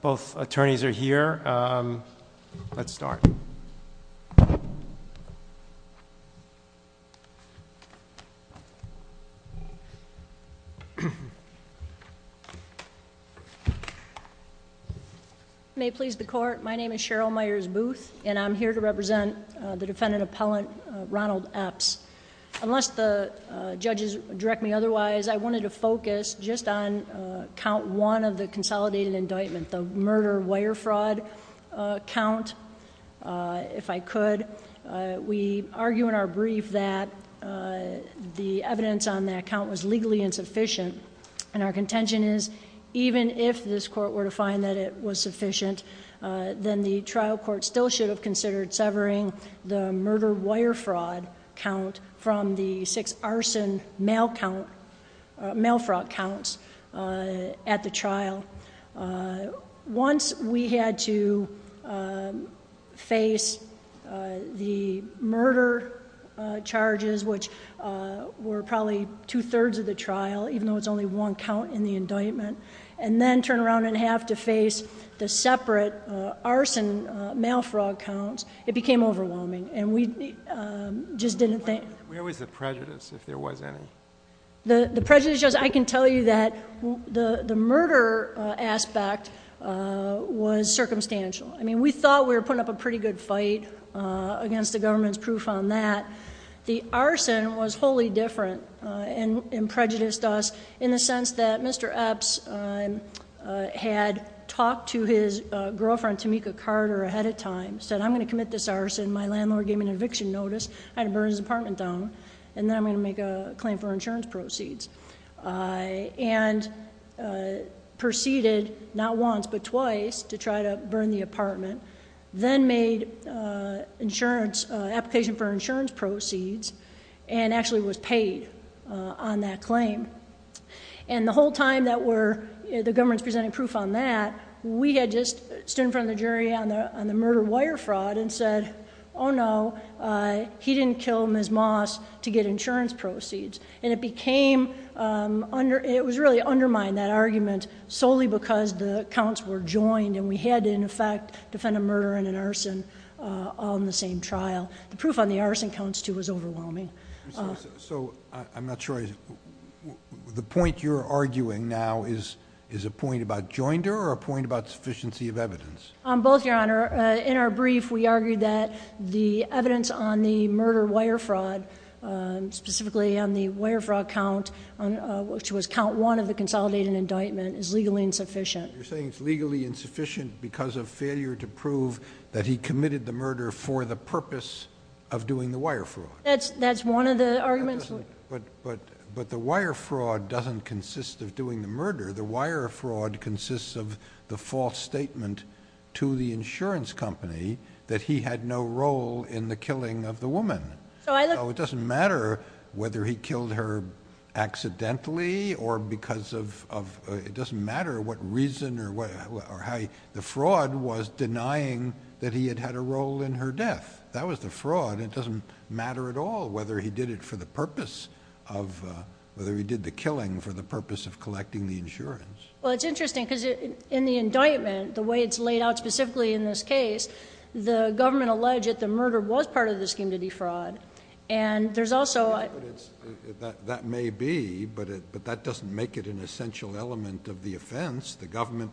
Both attorneys are here. Let's start. May it please the court, my name is Cheryl Myers Booth and I'm here to represent the defendant appellant Ronald Epps. Unless the judges direct me otherwise, I wanted to focus just on count one of the consolidated indictment, the murder wire fraud count. If I could, we argue in our brief that the evidence on that count was legally insufficient. And our contention is, even if this court were to find that it was sufficient, then the trial court still should have considered severing the murder wire fraud count from the six arson mail fraud counts at the trial. Once we had to face the murder charges, which were probably two-thirds of the trial, even though it's only one count in the indictment, and then turn around and have to face the separate arson mail fraud counts, it became overwhelming. And we just didn't think- Where was the prejudice, if there was any? The prejudice, I can tell you that the murder aspect was circumstantial. I mean, we thought we were putting up a pretty good fight against the government's proof on that. The arson was wholly different and prejudiced us in the sense that Mr. Epps had talked to his girlfriend, Tamika Carter, ahead of time. Said, I'm going to commit this arson. My landlord gave me an eviction notice. I had to burn his apartment down. And then I'm going to make a claim for insurance proceeds. And proceeded, not once but twice, to try to burn the apartment. Then made an application for insurance proceeds, and actually was paid on that claim. And the whole time that the government was presenting proof on that, we had just stood in front of the jury on the murder wire fraud and said, oh no, he didn't kill Ms. Moss to get insurance proceeds. And it became, it was really undermined, that argument, solely because the counts were joined. And we had to, in effect, defend a murder and an arson on the same trial. The proof on the arson counts, too, was overwhelming. So, I'm not sure, the point you're arguing now is a point about joinder or a point about sufficiency of evidence? Both, Your Honor. In our brief, we argued that the evidence on the murder wire fraud, specifically on the wire fraud count, which was count one of the consolidated indictment, is legally insufficient. You're saying it's legally insufficient because of failure to prove that he committed the murder for the purpose of doing the wire fraud? That's one of the arguments. But the wire fraud doesn't consist of doing the murder. The wire fraud consists of the false statement to the insurance company that he had no role in the killing of the woman. So, it doesn't matter whether he killed her accidentally or because of, it doesn't matter what reason or how he, the fraud was denying that he had had a role in her death. That was the fraud. It doesn't matter at all whether he did it for the purpose of, whether he did the killing for the purpose of collecting the insurance. Well, it's interesting because in the indictment, the way it's laid out specifically in this case, the government alleged that the murder was part of the scheme to defraud. And there's also a... That may be, but that doesn't make it an essential element of the offense. The government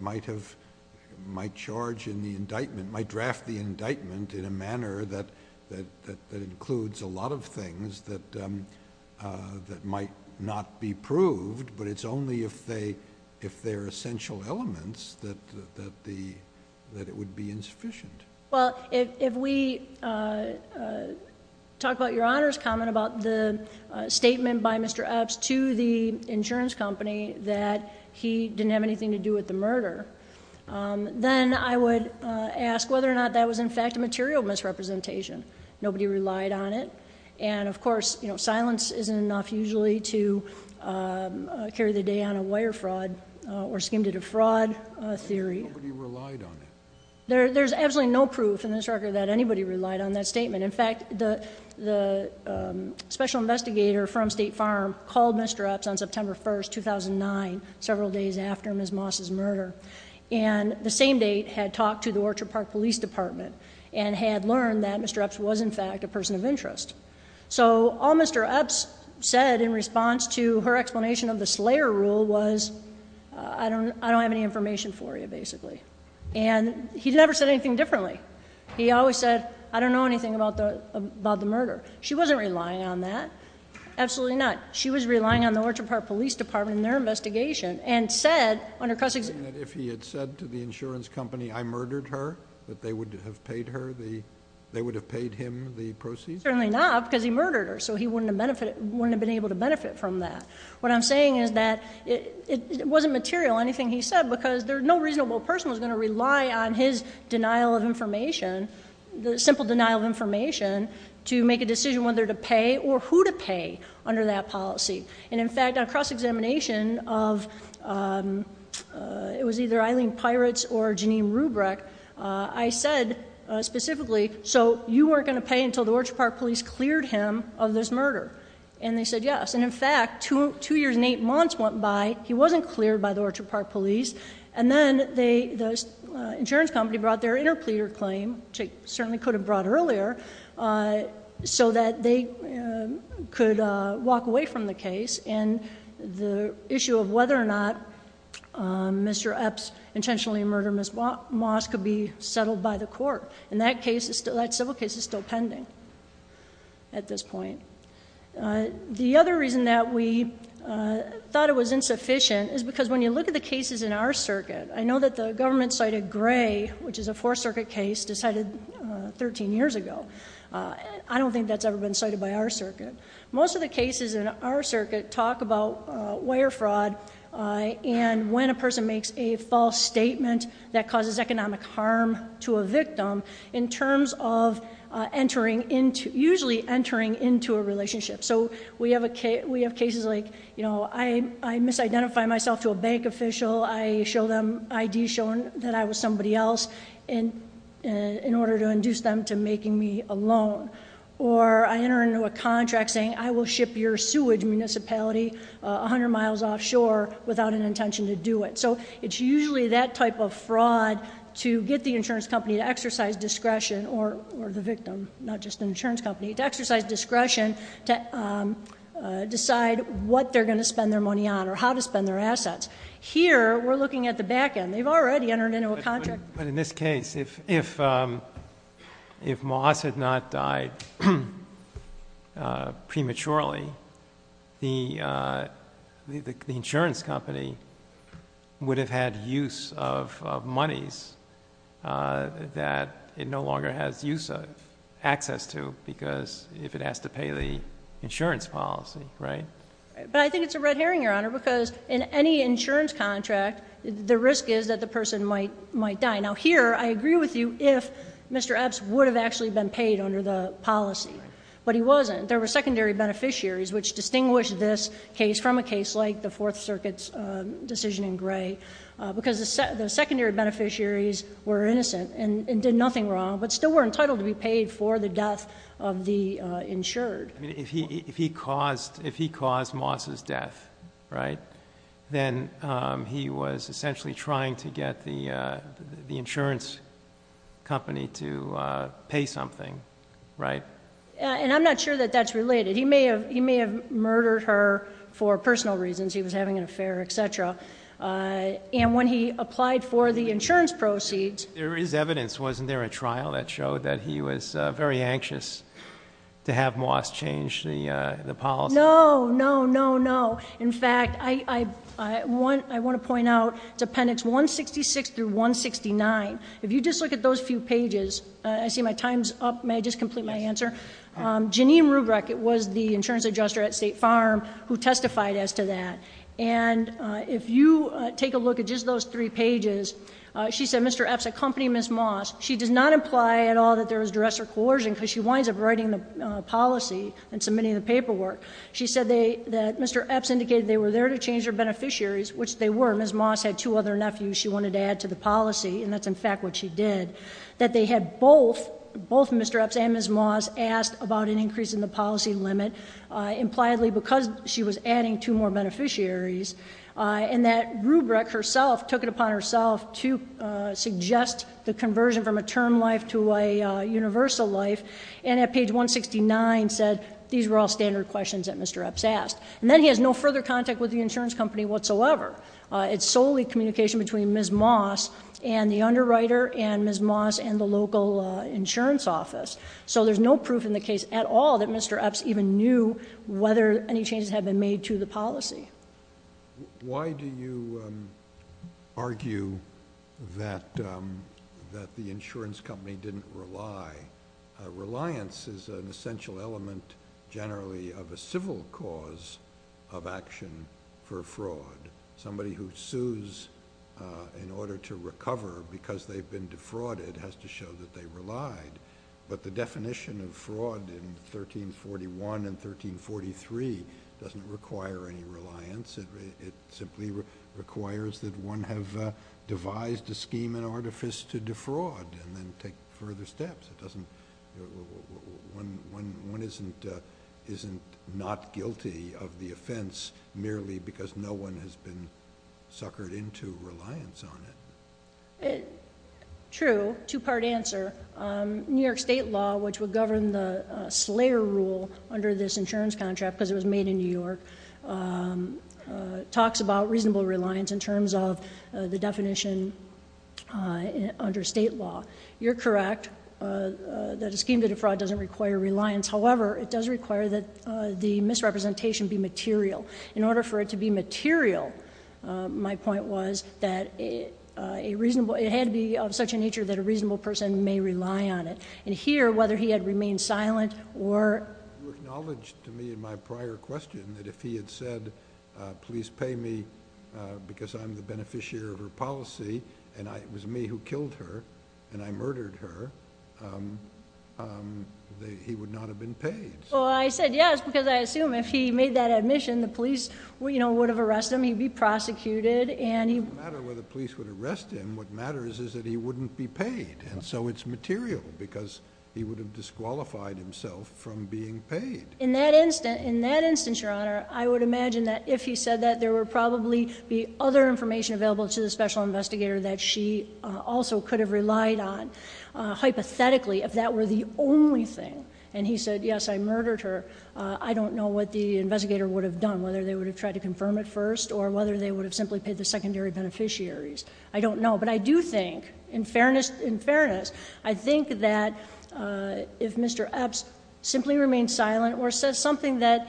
might charge in the indictment, might draft the indictment in a manner that includes a lot of things that might not be proved. But it's only if they're essential elements that it would be insufficient. Well, if we talk about your Honor's comment about the statement by Mr. Epps to the insurance company that he didn't have anything to do with the murder, then I would ask whether or not that was in fact a material misrepresentation. Nobody relied on it. And of course, you know, silence isn't enough usually to carry the day on a wire fraud or scheme to defraud theory. Nobody relied on it. There's absolutely no proof in this record that anybody relied on that statement. In fact, the special investigator from State Farm called Mr. Epps on September 1st, 2009, several days after Ms. Moss' murder. And the same date had talked to the Orchard Park Police Department and had learned that Mr. Epps was in fact a person of interest. So all Mr. Epps said in response to her explanation of the Slayer Rule was, I don't have any information for you, basically. And he never said anything differently. He always said, I don't know anything about the murder. She wasn't relying on that. Absolutely not. She was relying on the Orchard Park Police Department and their investigation and said under Cusick's- If he had said to the insurance company, I murdered her, that they would have paid him the proceeds? Certainly not, because he murdered her. So he wouldn't have been able to benefit from that. What I'm saying is that it wasn't material, anything he said, because no reasonable person was going to rely on his denial of information, the simple denial of information, to make a decision whether to pay or who to pay under that policy. And in fact, on cross-examination of, it was either Eileen Pirates or Jeanine Rubrik, I said specifically, so you weren't going to pay until the Orchard Park Police cleared him of this murder? And they said yes. And in fact, two years and eight months went by, he wasn't cleared by the Orchard Park Police, and then the insurance company brought their interpleader claim, which they certainly could have brought earlier, so that they could walk away from the case and the issue of whether or not Mr. Epps intentionally murdered Ms. Moss could be settled by the court. And that civil case is still pending at this point. The other reason that we thought it was insufficient is because when you look at the cases in our circuit, I know that the government cited Gray, which is a Fourth Circuit case decided 13 years ago. I don't think that's ever been cited by our circuit. Most of the cases in our circuit talk about wire fraud and when a person makes a false statement that causes economic harm to a victim in terms of usually entering into a relationship. So we have cases like I misidentify myself to a bank official, I show them ID showing that I was somebody else in order to induce them to making me a loan. Or I enter into a contract saying I will ship your sewage municipality 100 miles offshore without an intention to do it. So it's usually that type of fraud to get the insurance company to exercise discretion or the victim, not just the insurance company, to exercise discretion to decide what they're going to spend their money on or how to spend their assets. Here, we're looking at the back end. They've already entered into a contract. But in this case, if Moss had not died prematurely, the insurance company would have had use of monies that it no longer has use of, access to, because if it has to pay the insurance policy, right? But I think it's a red herring, Your Honor, because in any insurance contract, the risk is that the person might die. Now here, I agree with you if Mr. Epps would have actually been paid under the policy. But he wasn't. There were secondary beneficiaries which distinguish this case from a case like the Fourth Circuit's decision in Gray because the secondary beneficiaries were innocent and did nothing wrong but still were entitled to be paid for the death of the insured. I mean, if he caused Moss's death, right, then he was essentially trying to get the insurance company to pay something, right? And I'm not sure that that's related. He may have murdered her for personal reasons. He was having an affair, et cetera. And when he applied for the insurance proceeds— There is evidence. Wasn't there a trial that showed that he was very anxious to have Moss change the policy? No, no, no, no. In fact, I want to point out Appendix 166 through 169. If you just look at those few pages, I see my time's up. May I just complete my answer? Yes. Janine Ruebrecht was the insurance adjuster at State Farm who testified as to that. And if you take a look at just those three pages, she said Mr. Epps accompanied Ms. Moss. She does not imply at all that there was duress or coercion because she winds up writing the policy and submitting the paperwork. She said that Mr. Epps indicated they were there to change their beneficiaries, which they were. Ms. Moss had two other nephews she wanted to add to the policy, and that's in fact what she did. That they had both, both Mr. Epps and Ms. Moss, asked about an increase in the policy limit, impliedly because she was adding two more beneficiaries, and that Ruebrecht herself took it upon herself to suggest the conversion from a term life to a universal life, and at page 169 said these were all standard questions that Mr. Epps asked. And then he has no further contact with the insurance company whatsoever. It's solely communication between Ms. Moss and the underwriter and Ms. Moss and the local insurance office. So there's no proof in the case at all that Mr. Epps even knew whether any changes had been made to the policy. Why do you argue that the insurance company didn't rely? Reliance is an essential element generally of a civil cause of action for fraud. Somebody who sues in order to recover because they've been defrauded has to show that they relied. But the definition of fraud in 1341 and 1343 doesn't require any reliance. It simply requires that one have devised a scheme and artifice to defraud and then take further steps. One isn't not guilty of the offense merely because no one has been suckered into reliance on it. True, two-part answer. New York state law, which would govern the Slayer rule under this insurance contract, because it was made in New York, talks about reasonable reliance in terms of the definition under state law. You're correct that a scheme to defraud doesn't require reliance. However, it does require that the misrepresentation be material. In order for it to be material, my point was that it had to be of such a nature that a reasonable person may rely on it. And here, whether he had remained silent or— You acknowledged to me in my prior question that if he had said, please pay me because I'm the beneficiary of her policy and it was me who killed her and I murdered her, he would not have been paid. Well, I said yes because I assume if he made that admission, the police would have arrested him, he'd be prosecuted, and he— It doesn't matter whether the police would arrest him. What matters is that he wouldn't be paid. And so it's material because he would have disqualified himself from being paid. In that instance, Your Honor, I would imagine that if he said that, there would probably be other information available to the special investigator that she also could have relied on, hypothetically, if that were the only thing. And he said, yes, I murdered her. I don't know what the investigator would have done, whether they would have tried to confirm it first or whether they would have simply paid the secondary beneficiaries. I don't know. But I do think, in fairness, I think that if Mr. Epps simply remained silent or said something that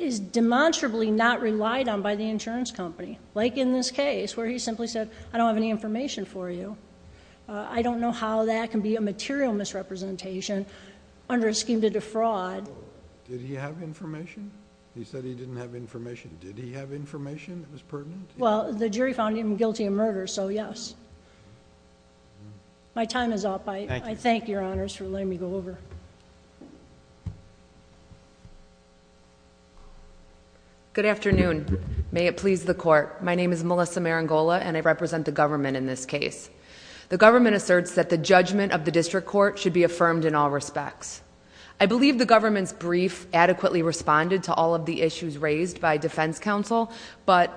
is demonstrably not relied on by the insurance company, like in this case where he simply said, I don't have any information for you, I don't know how that can be a material misrepresentation under a scheme to defraud— Did he have information? He said he didn't have information. Did he have information that was pertinent? Well, the jury found him guilty of murder, so yes. My time is up. I thank Your Honors for letting me go over. Good afternoon. May it please the Court. My name is Melissa Marangola, and I represent the government in this case. The government asserts that the judgment of the district court should be affirmed in all respects. I believe the government's brief adequately responded to all of the issues raised by defense counsel, but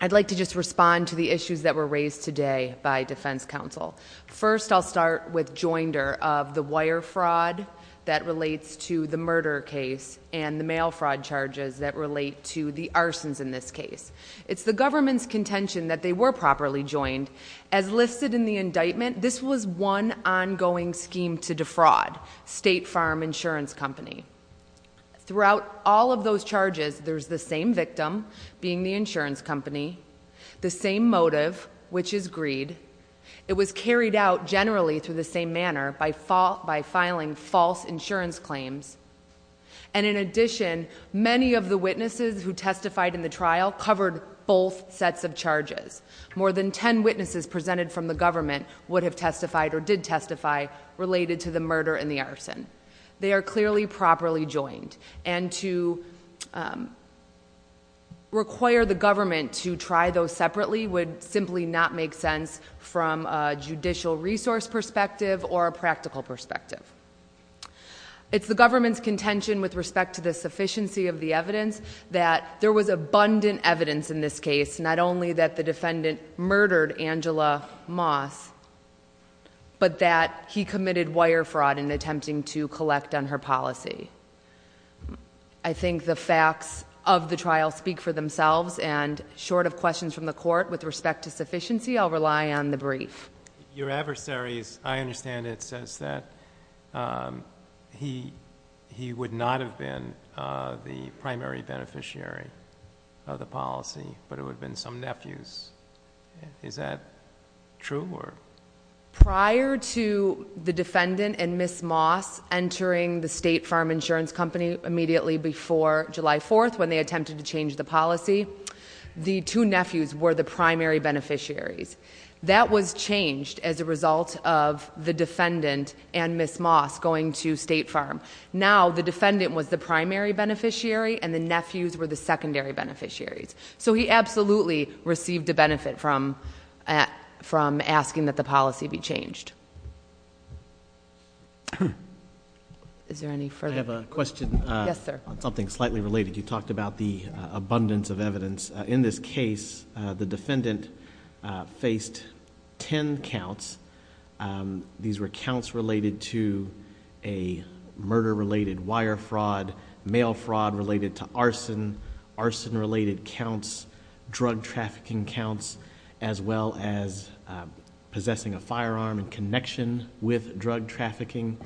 I'd like to just respond to the issues that were raised today by defense counsel. First, I'll start with joinder of the wire fraud that relates to the murder case and the mail fraud charges that relate to the arsons in this case. It's the government's contention that they were properly joined. As listed in the indictment, this was one ongoing scheme to defraud State Farm Insurance Company. Throughout all of those charges, there's the same victim, being the insurance company, the same motive, which is greed. It was carried out generally through the same manner, by filing false insurance claims. And in addition, many of the witnesses who testified in the trial covered both sets of charges. More than ten witnesses presented from the government would have testified or did testify related to the murder and the arson. They are clearly properly joined, and to require the government to try those separately would simply not make sense from a judicial resource perspective or a practical perspective. It's the government's contention with respect to the sufficiency of the evidence that there was abundant evidence in this case, not only that the defendant murdered Angela Moss, but that he committed wire fraud in attempting to collect on her policy. I think the facts of the trial speak for themselves, and short of questions from the court with respect to sufficiency, I'll rely on the brief. Your adversary, as I understand it, says that he would not have been the primary beneficiary of the policy, but it would have been some nephews. Is that true? Prior to the defendant and Ms. Moss entering the State Farm Insurance Company immediately before July 4th, when they attempted to change the policy, the two nephews were the primary beneficiaries. That was changed as a result of the defendant and Ms. Moss going to State Farm. Now the defendant was the primary beneficiary, and the nephews were the secondary beneficiaries. So he absolutely received a benefit from asking that the policy be changed. Is there any further? I have a question on something slightly related. You talked about the abundance of evidence. In this case, the defendant faced ten counts. These were counts related to a murder-related wire fraud, mail fraud related to arson, arson-related counts, drug trafficking counts, as well as possessing a firearm in connection with drug trafficking.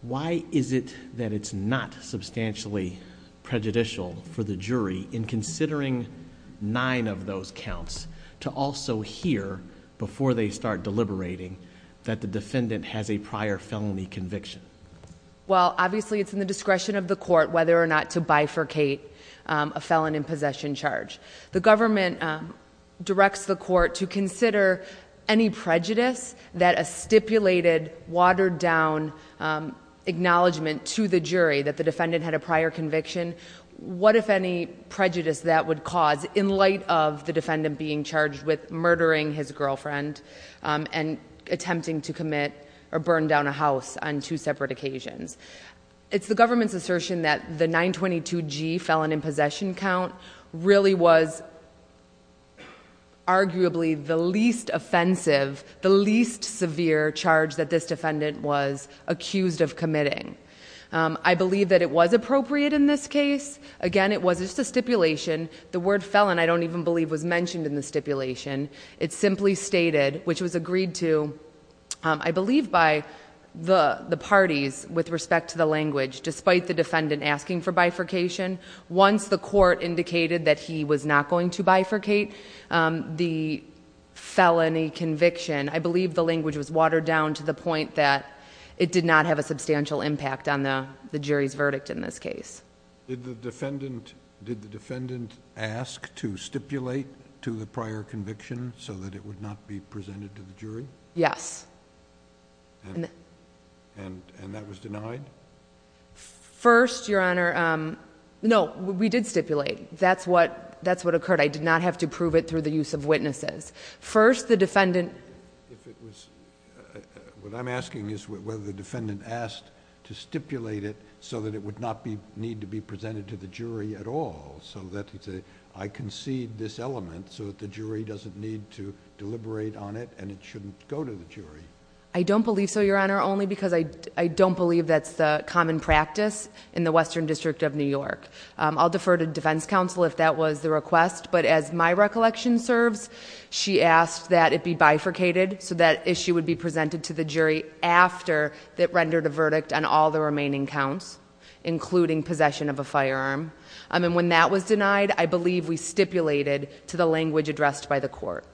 Why is it that it's not substantially prejudicial for the jury, in considering nine of those counts, to also hear before they start deliberating that the defendant has a prior felony conviction? Obviously, it's in the discretion of the court whether or not to bifurcate a felon in possession charge. The government directs the court to consider any prejudice that a stipulated, watered-down acknowledgement to the jury that the defendant had a prior conviction. What, if any, prejudice that would cause, in light of the defendant being charged with murdering his girlfriend and attempting to commit or burn down a house on two separate occasions? It's the government's assertion that the 922G felon in possession count really was arguably the least offensive, the least severe charge that this defendant was accused of committing. I believe that it was appropriate in this case. Again, it was just a stipulation. The word felon, I don't even believe, was mentioned in the stipulation. It simply stated, which was agreed to, I believe by the parties with respect to the language, despite the defendant asking for bifurcation, once the court indicated that he was not going to bifurcate the felony conviction, I believe the language was watered down to the point that it did not have a substantial impact on the jury's verdict in this case. Did the defendant ask to stipulate to the prior conviction so that it would not be presented to the jury? Yes. And that was denied? First, Your Honor, no, we did stipulate. That's what occurred. I did not have to prove it through the use of witnesses. First, the defendant... What I'm asking is whether the defendant asked to stipulate it so that it would not need to be presented to the jury at all, so that he could say, I concede this element so that the jury doesn't need to deliberate on it I don't believe so, Your Honor, only because I don't believe that's the common practice in the Western District of New York. I'll defer to defense counsel if that was the request, but as my recollection serves, she asked that it be bifurcated so that issue would be presented to the jury after it rendered a verdict on all the remaining counts, including possession of a firearm. And when that was denied, I believe we stipulated to the language addressed by the court.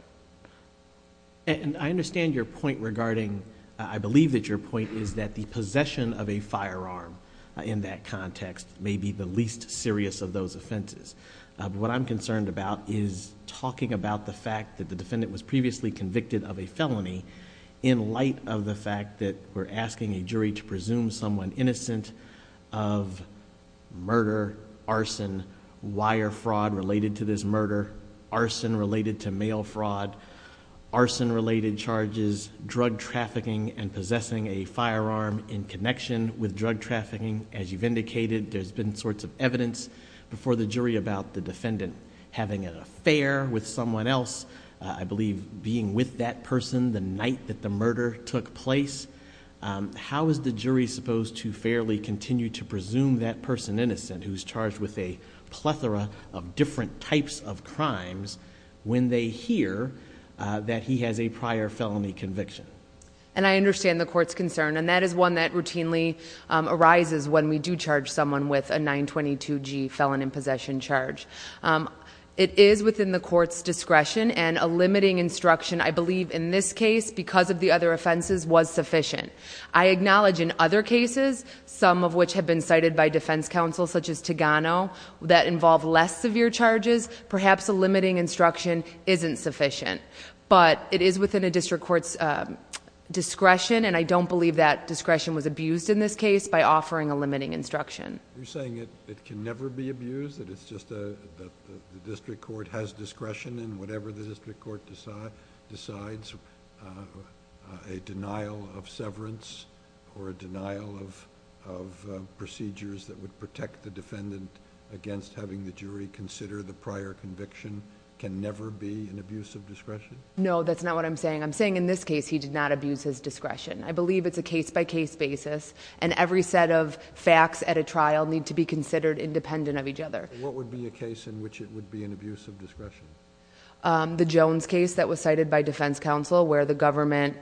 And I understand your point regarding... I believe that your point is that the possession of a firearm in that context may be the least serious of those offenses. What I'm concerned about is talking about the fact that the defendant was previously convicted of a felony in light of the fact that we're asking a jury to presume someone innocent of murder, arson, wire fraud related to this murder, arson related to mail fraud, arson related charges, drug trafficking, and possessing a firearm in connection with drug trafficking. As you've indicated, there's been sorts of evidence before the jury about the defendant having an affair with someone else. I believe being with that person the night that the murder took place. How is the jury supposed to fairly continue to presume that person innocent who's charged with a plethora of different types of crimes when they hear that he has a prior felony conviction? And I understand the court's concern, and that is one that routinely arises when we do charge someone with a 922-G felon in possession charge. It is within the court's discretion, and a limiting instruction, I believe, in this case, because of the other offenses, was sufficient. I acknowledge in other cases, some of which have been cited by defense counsel, such as Tagano, that involve less severe charges. Perhaps a limiting instruction isn't sufficient. But it is within a district court's discretion, and I don't believe that discretion was abused in this case by offering a limiting instruction. You're saying it can never be abused, that it's just that the district court has discretion in whatever the district court decides, a denial of severance or a denial of procedures that would protect the defendant against having the jury consider the prior conviction can never be an abuse of discretion? No, that's not what I'm saying. I'm saying in this case, he did not abuse his discretion. I believe it's a case-by-case basis, and every set of facts at a trial need to be considered independent of each other. What would be a case in which it would be an abuse of discretion? The Jones case that was cited by defense counsel, where the government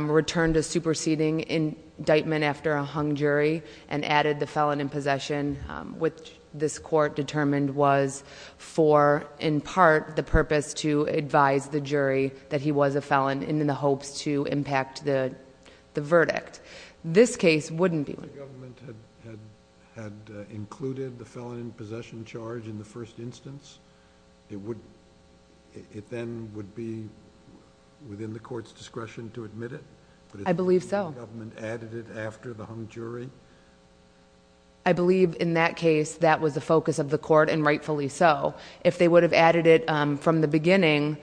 returned a superseding indictment after a hung jury and added the felon in possession, which this court determined was for, in part, the purpose to advise the jury that he was a felon in the hopes to impact the verdict. This case wouldn't be one. If the government had included the felon in possession charge in the first instance, it then would be within the court's discretion to admit it? I believe so. If the government added it after the hung jury? I believe in that case, that was the focus of the court, and rightfully so. If they would have added it from the beginning,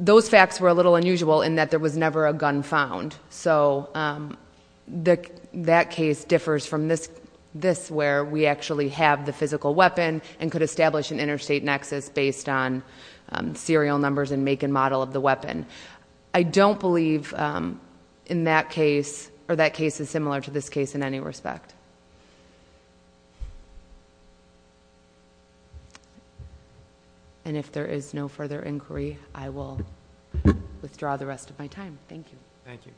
those facts were a little unusual in that there was never a gun found. So that case differs from this, where we actually have the physical weapon and could establish an interstate nexus based on serial numbers and make and model of the weapon. I don't believe in that case, or that case is similar to this case in any respect. And if there is no further inquiry, I will withdraw the rest of my time. Thank you. Thank you.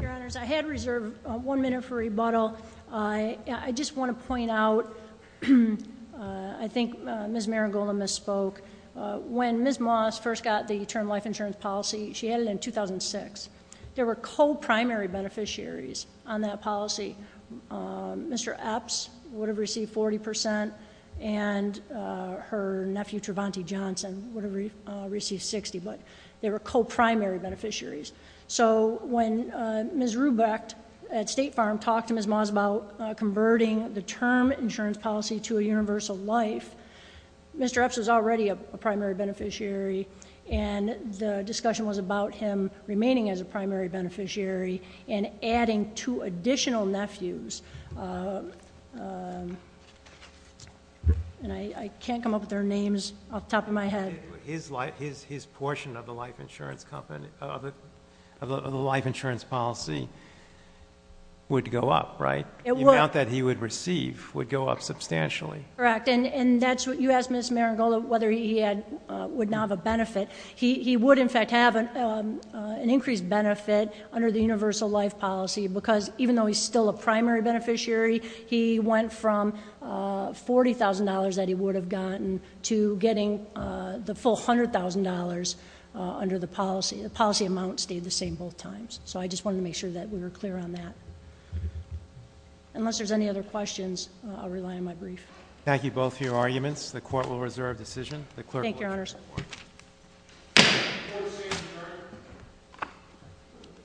Your Honors, I had reserved one minute for rebuttal. I just want to point out, I think Ms. Marangola misspoke. When Ms. Moss first got the term life insurance policy, she had it in 2006. There were co-primary beneficiaries on that policy. Mr. Epps would have received 40%, and her nephew, Trevante Johnson, would have received 60%, but they were co-primary beneficiaries. So when Ms. Rubecht at State Farm talked to Ms. Moss about converting the term insurance policy to a universal life, Mr. Epps was already a primary beneficiary, and the discussion was about him remaining as a primary beneficiary and adding two additional nephews. And I can't come up with their names off the top of my head. His portion of the life insurance policy would go up, right? It would. The amount that he would receive would go up substantially. Correct. And you asked Ms. Marangola whether he would now have a benefit. He would, in fact, have an increased benefit under the universal life policy because even though he's still a primary beneficiary, he went from $40,000 that he would have gotten to getting the full $100,000 under the policy. The policy amount stayed the same both times. So I just wanted to make sure that we were clear on that. Unless there's any other questions, I'll rely on my brief. Thank you both for your arguments. Thank you, Your Honors.